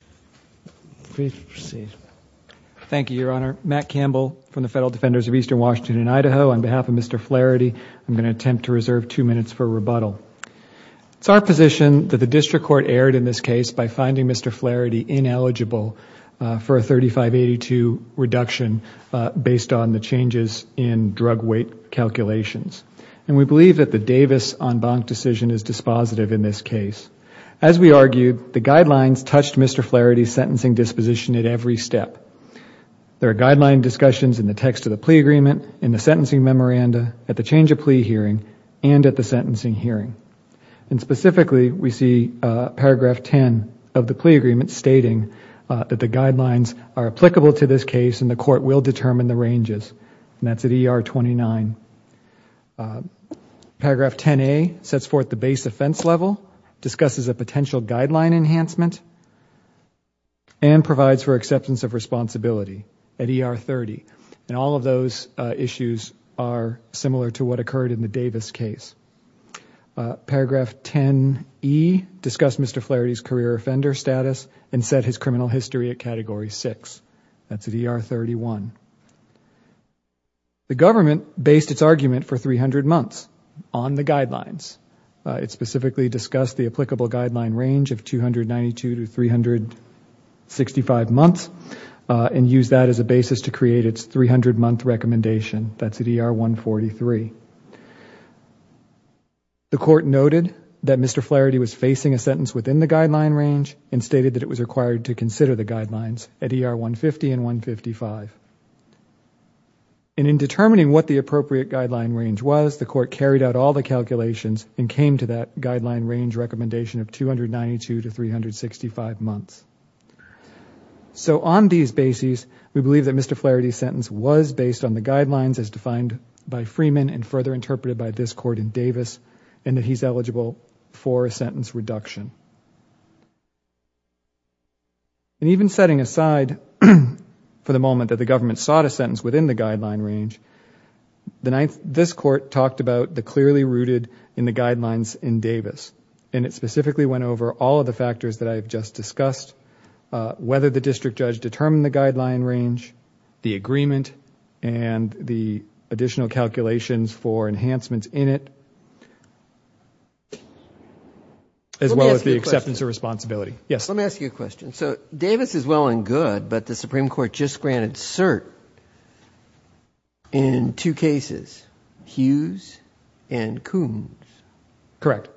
It is our position that the District Court erred in this case by finding Mr. Flaherty ineligible for a 3582 reduction based on the changes in drug weight calculations. We believe that the Davis-Enbanc decision is dispositive in this case. As we argued, the guidelines touched Mr. Flaherty's sentencing disposition at every step. There are guideline discussions in the text of the plea agreement, in the sentencing memoranda, at the change of plea hearing, and at the sentencing hearing. Specifically, we see paragraph 10 of the plea agreement stating that the guidelines are applicable to this case and the Court will determine the ranges. That is at ER 29. Paragraph 10A sets forth the base offense level, discusses a potential guideline enhancement, and provides for acceptance of responsibility at ER 30. All of those issues are similar to what occurred in the Davis case. Paragraph 10E discussed Mr. Flaherty's career offender status and set his criminal history at category 6. That is at ER 31. The Government based its argument for 300 months on the guidelines. It specifically discussed the applicable guideline range of 292 to 365 months and used that as a basis to create its 300-month recommendation. That is at ER 143. The Court noted that Mr. Flaherty was facing a sentence within the guideline range and stated that it was required to consider the guidelines at ER 150 and 155. In determining what the appropriate guideline range was, the Court carried out all the calculations and came to that guideline range recommendation of 292 to 365 months. On these bases, we believe that Mr. Flaherty's sentence was based on the guidelines as defined by Freeman and further interpreted by this Court in Davis and that he is eligible for a sentence reduction. Even setting aside for the moment that the Government sought a sentence within the guideline range, this Court talked about the clearly rooted in the guidelines in Davis and it specifically went over all of the factors that I have just discussed, whether the District Judge determined the guideline range, the agreement and the additional calculations for enhancements in it as well as the acceptance of responsibility. Yes. Let me ask you a question. So Davis is well and good, but the Supreme Court just granted cert in two cases, Hughes and Coombs. Correct.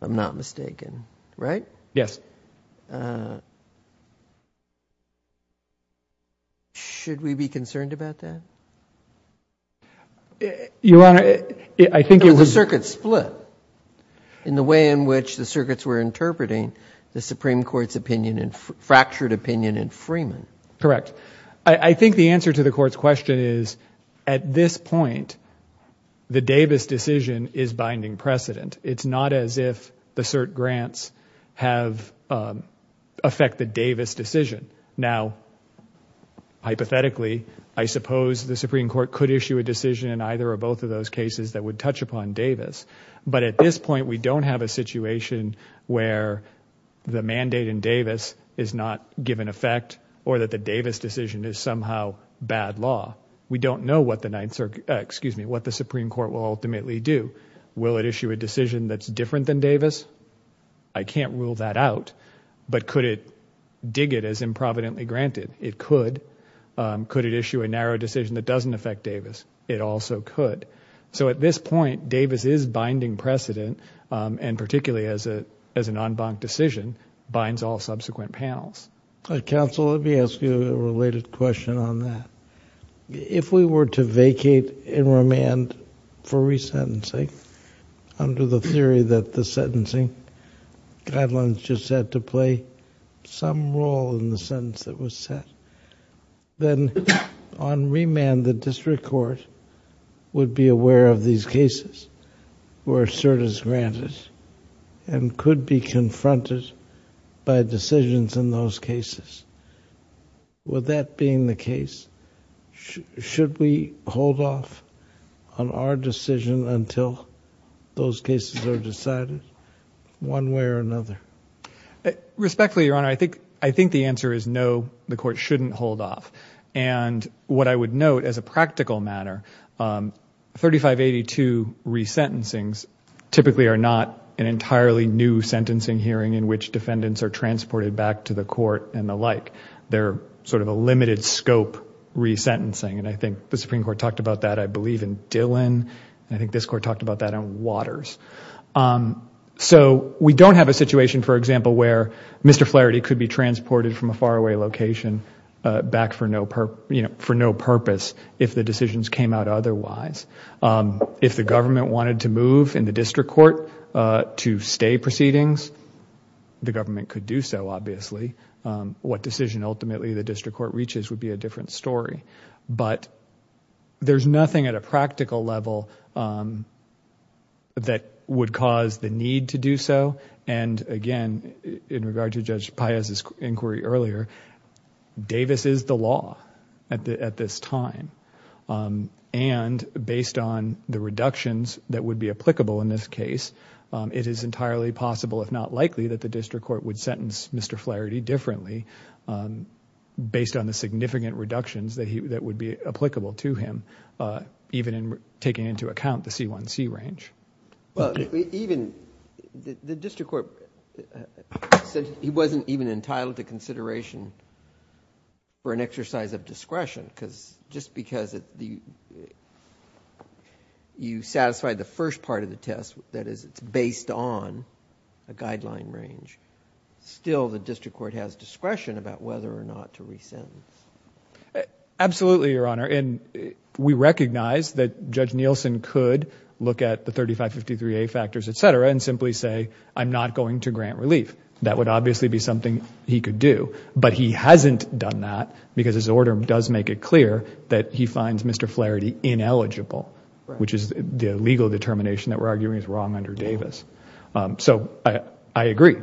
I am not mistaken, right? Yes. Should we be concerned about that? Your Honor, I think it was... The circuits split in the way in which the circuits were interpreting the Supreme Court's opinion and fractured opinion in Freeman. Correct. I think the answer to the Court's question is at this point, the Davis decision is binding precedent. It is not as if the cert grants have affected the Davis decision. Now, hypothetically, I suppose the Supreme Court could issue a decision in either or both of those cases that would touch upon Davis. But at this point, we don't have a situation where the mandate in Davis is not given effect or that the Davis decision is somehow bad law. We don't know what the Supreme Court will ultimately do. Will it issue a decision that's different than Davis? I can't rule that out, but could it dig it as improvidently granted? It could. Could it issue a narrow decision that doesn't affect Davis? It also could. So at this point, Davis is binding precedent, and particularly as an en banc decision, binds all subsequent panels. Counsel, let me ask you a related question on that. If we were to vacate and remand for resentencing under the theory that the sentencing guidelines just had to play some role in the sentence that was set, then on remand, the District Court would be aware of these cases where a cert is granted and could be confronted by decisions in those cases. With that being the case, should we hold off on our decision until those cases are decided, one way or another? Respectfully, Your Honor, I think the answer is no, the Court shouldn't hold off. What I would note as a practical matter, 3582 resentencings typically are not an entirely new sentencing hearing in which defendants are transported back to the court and the like. They're sort of a limited scope resentencing. I think the Supreme Court talked about that, I believe, in Dillon. I think this Court talked about that in Waters. So we don't have a situation, for example, where Mr. Flaherty could be transported from a faraway location back for no purpose if the decisions came out otherwise. If the government wanted to move in the District Court to stay proceedings, the government could do so, obviously. What decision ultimately the District Court reaches would be a different story. But there's nothing at a practical level that would cause the need to do so. And, again, in regard to Judge Paez's inquiry earlier, Davis is the law at this time. And based on the reductions that would be applicable in this case, it is entirely possible, if not likely, that the District Court would sentence Mr. Flaherty differently based on the significant reductions that would be applicable to him, even in taking into account the C1C range. Thank you. Well, even the District Court said he wasn't even entitled to consideration for an exercise of discretion, because just because you satisfied the first part of the test, that is it's based on a guideline range, still the District Court has discretion about whether or not to re-sentence. Absolutely, Your Honor. And we recognize that Judge Nielsen could look at the 3553A factors, et cetera, and simply say, I'm not going to grant relief. That would obviously be something he could do. But he hasn't done that, because his order does make it clear that he finds Mr. Flaherty ineligible, which is the legal determination that we're arguing is wrong under Davis. So I agree.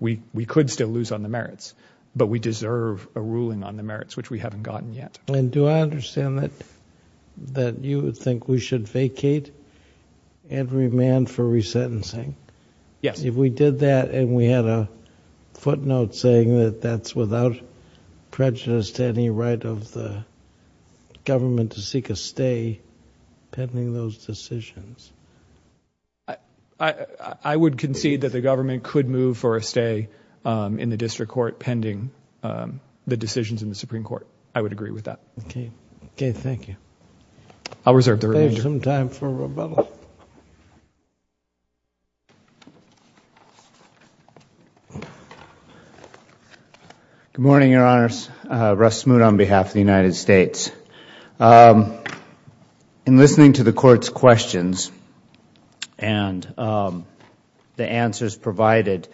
We could still lose on the merits, but we deserve a ruling on the merits, which we haven't gotten yet. And do I understand that you would think we should vacate and remand for re-sentencing? Yes. If we did that and we had a footnote saying that that's without prejudice to any right of the government to seek a stay pending those decisions? I would concede that the government could move for a stay in the District Court pending the decisions in the Supreme Court. I would agree with that. Okay. Okay. Thank you. I'll reserve the remainder. We have some time for rebuttal. Good morning, Your Honors. Russ Smoot on behalf of the United States. In listening to the Court's questions and the answers provided,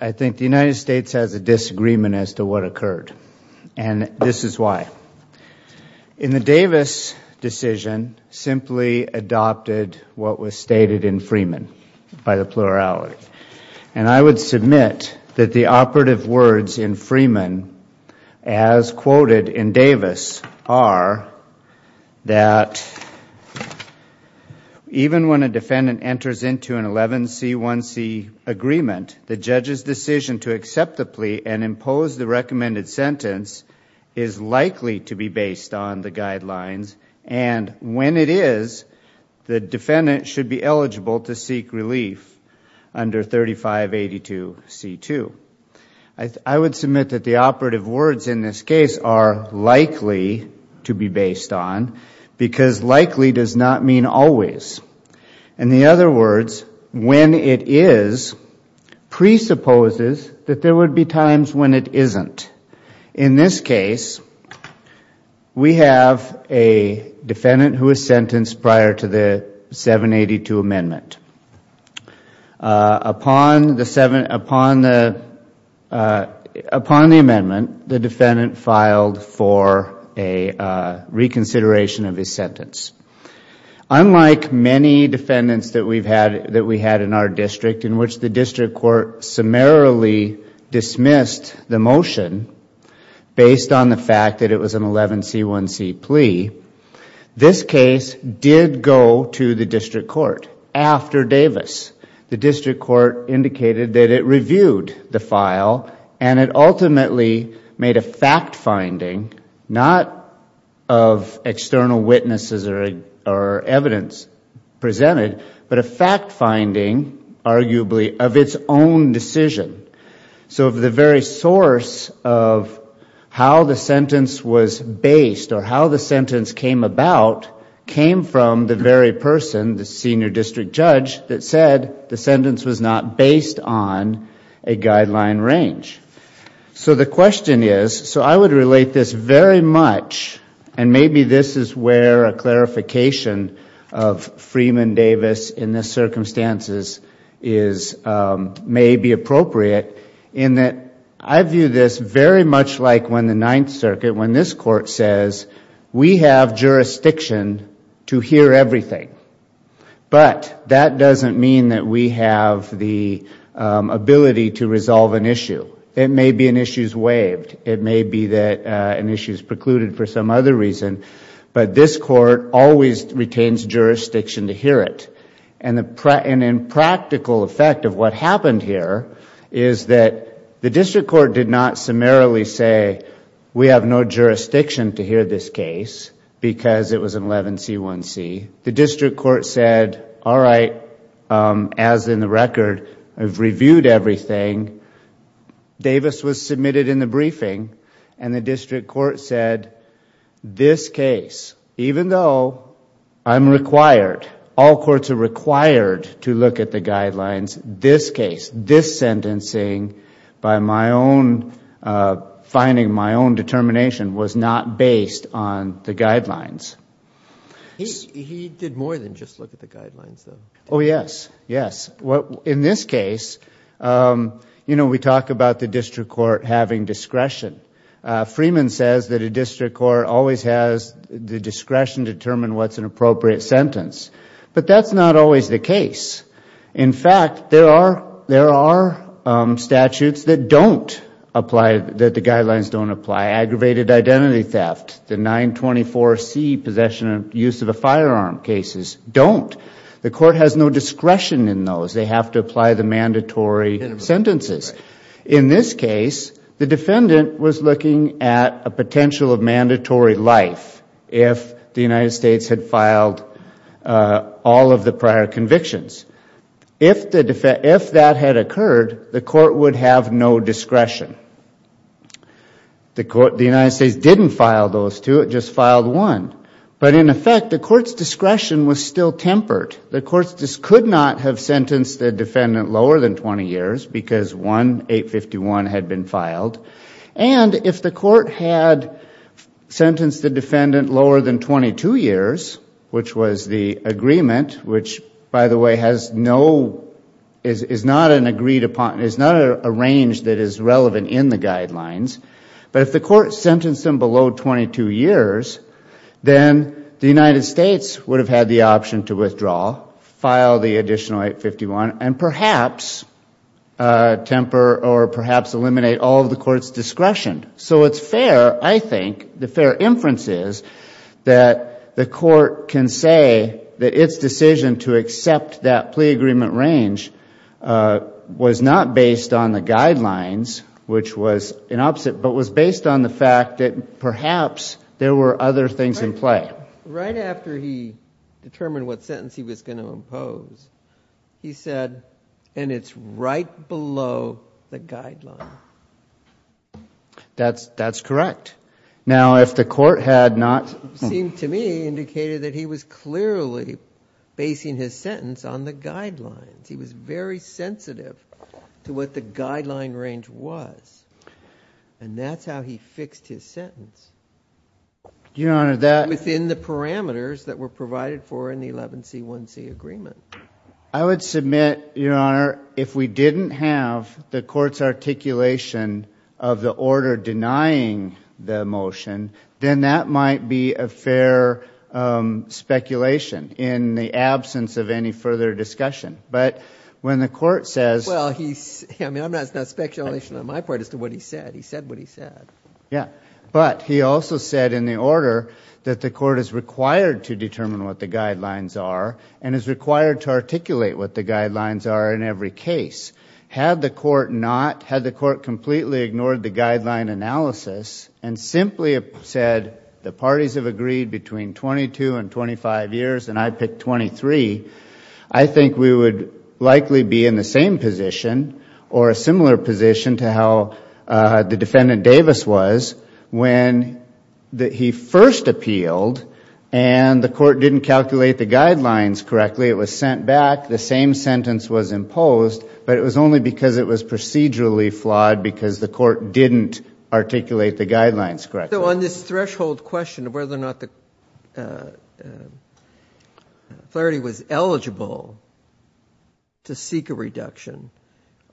I think the United States has a disagreement as to what occurred, and this is why. In the Davis decision, simply adopted what was stated in Freeman by the plurality. And I would submit that the operative words in Freeman as quoted in Davis are that even when a defendant enters into an 11C1C agreement, the judge's decision to accept the plea and impose the recommended sentence is likely to be based on the guidelines, and when it is, the defendant should be eligible to seek relief under 3582C2. I would submit that the operative words in this case are likely to be based on because likely does not mean always. In the other words, when it is presupposes that there would be times when it isn't. In this case, we have a defendant who is sentenced prior to the 782 amendment. Upon the amendment, the defendant filed for a reconsideration of his sentence. Unlike many defendants that we had in our district in which the district court summarily dismissed the motion based on the fact that it was an 11C1C plea, this case did go to the district court after Davis. The district court indicated that it reviewed the file and it ultimately made a fact finding not of external witnesses or evidence presented, but a fact finding arguably of its own decision. So the very source of how the sentence was based or how the sentence came about came from the very person, the senior district judge, that said the sentence was not based on a guideline range. So the question is, so I would relate this very much, and maybe this is where a clarification of Freeman Davis in this circumstances may be appropriate, in that I view this very much like when the Ninth Circuit, when this Court says, we have jurisdiction to hear everything, but that doesn't mean that we have the ability to resolve an issue. It may be an issue is waived. It may be that an issue is precluded for some other reason, but this Court always retains jurisdiction to hear it, and in practical effect of what happened here is that the district court did not summarily say, we have no jurisdiction to hear this case because it was an 11C1C. The district court said, all right, as in the record, I've reviewed everything. Davis was submitted in the briefing and the district court said, this case, even though I'm required, all courts are required to look at the guidelines, this case, this sentencing by my own finding, my own determination was not based on the guidelines. He did more than just look at the guidelines, though. Oh, yes. Yes. In this case, you know, we talk about the district court having discretion. Freeman says that a district court always has the discretion to determine what's an appropriate sentence, but that's not always the case. In fact, there are statutes that don't apply, that the guidelines don't apply. Aggravated identity theft, the 924C possession and use of a firearm cases don't. The court has no discretion in those. They have to apply the mandatory sentences. In this case, the defendant was looking at a potential of mandatory life if the United States didn't file those two convictions. If that had occurred, the court would have no discretion. The United States didn't file those two, it just filed one, but in effect, the court's discretion was still tempered. The courts could not have sentenced the defendant lower than 20 years because one, 851, had been filed, and if the court had sentenced the defendant lower than 22 years, which was the agreement, which, by the way, is not an agreed upon, is not a range that is relevant in the guidelines, but if the court sentenced them below 22 years, then the United States would have had the option to withdraw, file the additional 851, and perhaps temper or perhaps eliminate all of the court's discretion. So it's fair, I think, the fair inference is that the court can say that its decision to accept that plea agreement range was not based on the guidelines, which was an opposite, but was based on the fact that perhaps there were other things in play. Right after he determined what sentence he was going to impose, he said, and it's right below the guideline. That's correct. Now, if the court had not... It seemed to me, indicated that he was clearly basing his sentence on the guidelines. He was very sensitive to what the guideline range was, and that's how he fixed his sentence. Your Honor, that... Within the parameters that were provided for in the 11C1C agreement. I would submit, Your Honor, if we didn't have the court's articulation of the order denying the motion, then that might be a fair speculation in the absence of any further discussion. But when the court says... Well, I mean, that's not speculation on my part as to what he said. He said what he said. Yeah. But he also said in the order that the court is required to determine what the guidelines are and is required to articulate what the guidelines are in every case. Had the court not... Had the court completely ignored the guideline analysis and simply said the parties have agreed between 22 and 25 years, and I picked 23, I think we would likely be in the same position or a similar position to how the defendant Davis was when he first appealed and the court didn't calculate the guidelines correctly, it was sent back, the same sentence was imposed, but it was only because it was procedurally flawed because the court didn't articulate the guidelines correctly. So on this threshold question of whether or not the clarity was eligible to seek a reduction,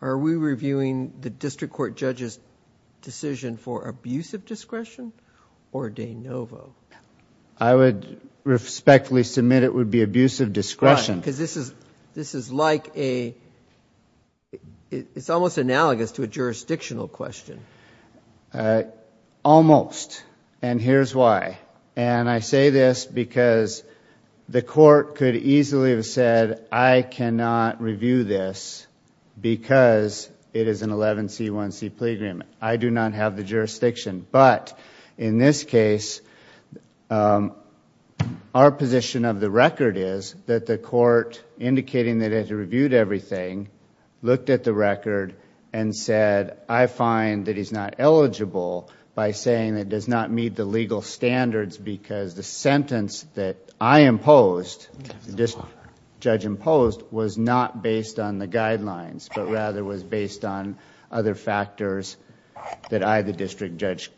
are we reviewing the district court judge's decision for abuse of discretion or de novo? I would respectfully submit it would be abuse of discretion. Because this is like a... It's almost analogous to a jurisdictional question. Almost, and here's why. And I say this because the court could easily have said, I cannot review this because it is an 11C1C plea agreement. I do not have the jurisdiction, but in this case, our position of the record is that the court indicating that it reviewed everything, looked at the record and said, I find that he's not eligible by saying that it does not meet the legal standards because the sentence that I imposed, the judge imposed, was not based on the guidelines, but rather was based on other factors that I, the district judge,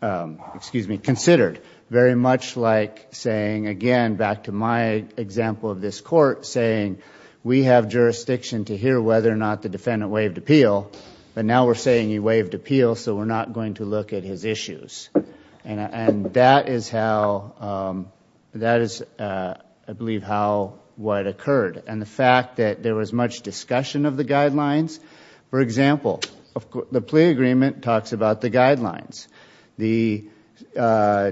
considered. Very much like saying, again, back to my example of this court, saying we have jurisdiction to hear whether or not the defendant waived appeal, but now we're saying he waived appeal so we're not going to look at his issues. And that is how, that is, I believe, how, what occurred. And the fact that there was much discussion of the guidelines, for example, the plea agreement talks about the guidelines. The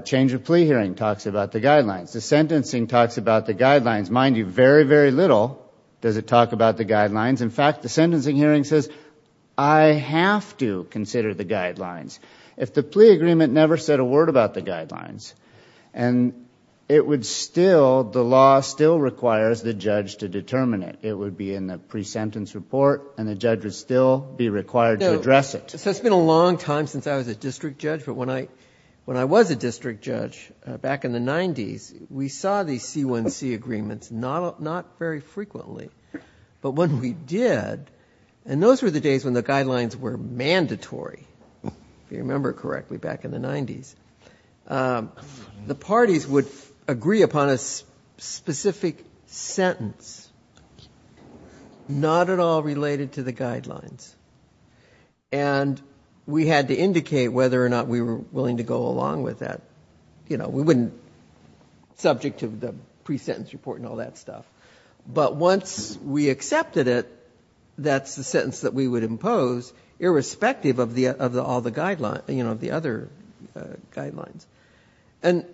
change of plea hearing talks about the guidelines. The sentencing talks about the guidelines. Mind you, very, very little does it talk about the guidelines. In fact, the sentencing hearing says, I have to consider the guidelines. If the plea agreement never said a word about the guidelines, and it would still, the law still requires the judge to determine it. It would be in the pre-sentence report and the judge would still be required to address it. So it's been a long time since I was a district judge, but when I was a district judge back in the 90s, we saw these C1C agreements, not very frequently, but when we did, and those were the days when the guidelines were mandatory, if I remember correctly, back in the 90s, the parties would agree upon a specific sentence, not at all related to the guidelines. And we had to indicate whether or not we were willing to go along with that. You know, we wouldn't, subject to the pre-sentence report and all that stuff. But once we accepted it, that's the sentence that we would impose, irrespective of all the guidelines, you know, the other guidelines. And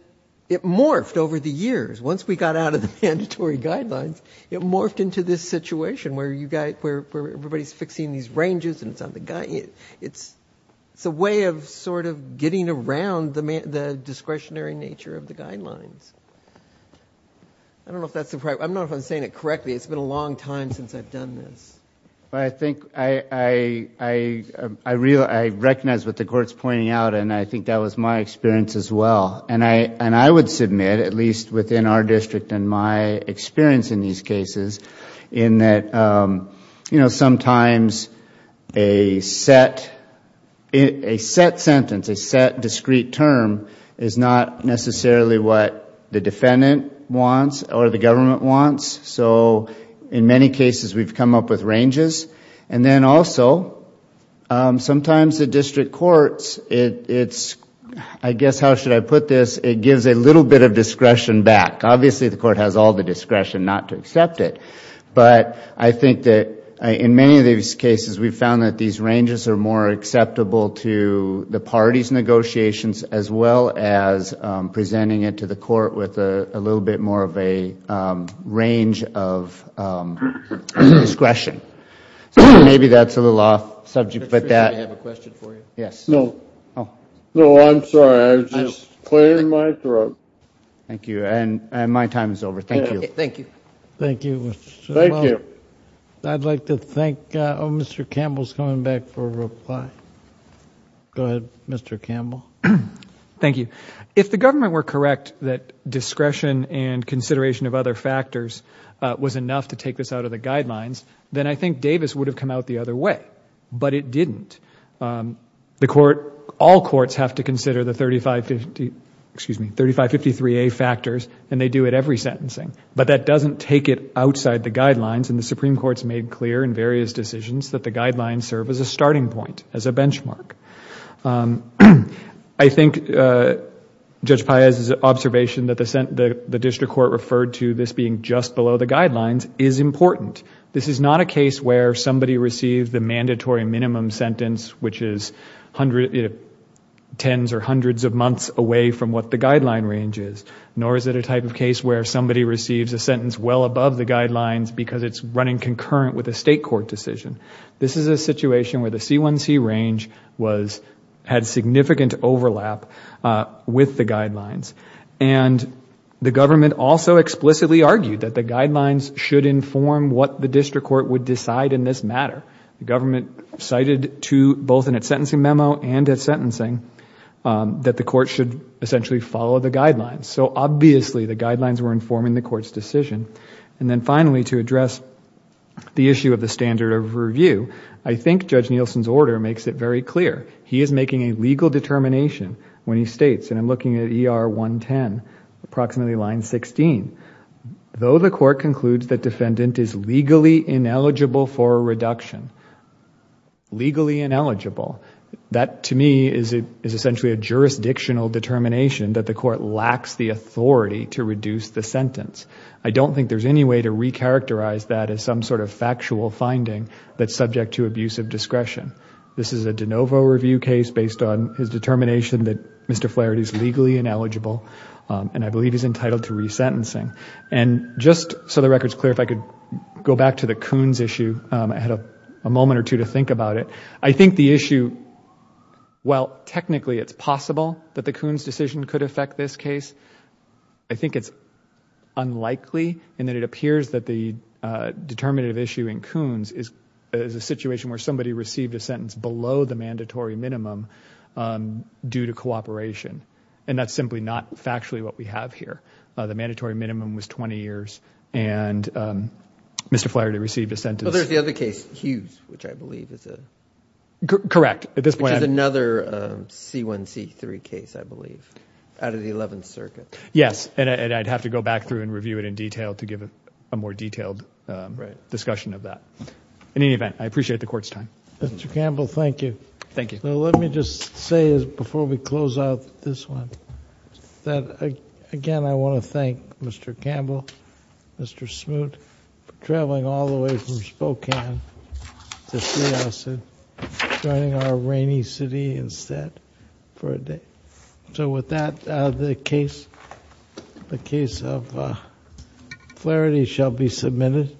it morphed over the years. Once we got out of the mandatory guidelines, it morphed into this situation where you got, where everybody's fixing these ranges and it's on the, it's a way of sort of getting around the discretionary nature of the guidelines. I don't know if that's the right, I don't know if I'm saying it correctly, it's been a long time since I've done this. But I think, I recognize what the court's pointing out and I think that was my experience as well. And I would submit, at least within our district and my experience in these cases, in that, you know, sometimes a set, a set sentence, a set discrete term is not necessarily what the defendant wants or the government wants. So in many cases we've come up with ranges. And then also, sometimes the district courts, it's, I guess, how should I put this, it gives a little bit of discretion back. Obviously the court has all the discretion not to accept it. But I think that in many of these cases we've found that these ranges are more acceptable to the parties' negotiations as well as presenting it to the court with a little bit more of a range of discretion. So maybe that's a little off subject, but that... Mr. Fischer, may I have a question for you? Yes. No. Oh. No, I'm sorry. I was just clearing my throat. Thank you. And my time is over. Thank you. Thank you. Thank you. Thank you. I'd like to thank, oh, Mr. Campbell's coming back for a reply. Go ahead, Mr. Campbell. Thank you. If the government were correct that discretion and consideration of other factors was enough to take this out of the guidelines, then I think Davis would have come out the other way. But it didn't. The court, all courts have to consider the 3550, excuse me, 3553A factors, and they do it every sentencing. But that doesn't take it outside the guidelines, and the Supreme Court's made clear in various decisions that the guidelines serve as a starting point, as a benchmark. I think Judge Paez's observation that the district court referred to this being just below the guidelines is important. This is not a case where somebody received the mandatory minimum sentence, which is tens or hundreds of months away from what the guideline range is, nor is it a type of case where somebody receives a sentence well above the guidelines because it's running concurrent with a State court decision. This is a situation where the C1C range had significant overlap with the guidelines. The government also explicitly argued that the guidelines should inform what the district court would decide in this matter. The government cited to both in its sentencing memo and its sentencing that the court should essentially follow the guidelines. So obviously, the guidelines were informing the court's decision. And then finally, to address the issue of the standard of review, I think Judge Nielsen's order makes it very clear. He is making a legal determination when he states, and I'm looking at ER 110, approximately line 16, though the court concludes that defendant is legally ineligible for a reduction. Legally ineligible, that to me is essentially a jurisdictional determination that the court lacks the authority to reduce the sentence. I don't think there's any way to recharacterize that as some sort of factual finding that's subject to abusive discretion. This is a De Novo review case based on his determination that Mr. Flaherty is legally ineligible and I believe he's entitled to resentencing. And just so the record's clear, if I could go back to the Coons issue, I had a moment or two to think about it. I think the issue, while technically it's possible that the Coons decision could affect this case, I think it's unlikely in that it appears that the determinative issue in Coons is a situation where somebody received a sentence below the mandatory minimum due to cooperation. And that's simply not factually what we have here. The mandatory minimum was 20 years and Mr. Flaherty received a sentence... Well, there's the other case, Hughes, which I believe is a... At this point... Which is another C1C3 case, I believe, out of the Eleventh Circuit. Yes, and I'd have to go back through and review it in detail to give a more detailed discussion of that. In any event, I appreciate the court's time. Mr. Campbell, thank you. Thank you. Let me just say, before we close out this one, that again, I want to thank Mr. Campbell, Mr. Smoot, for traveling all the way from Spokane to see us and joining our rainy city instead for a day. So with that, the case of Flaherty shall be submitted.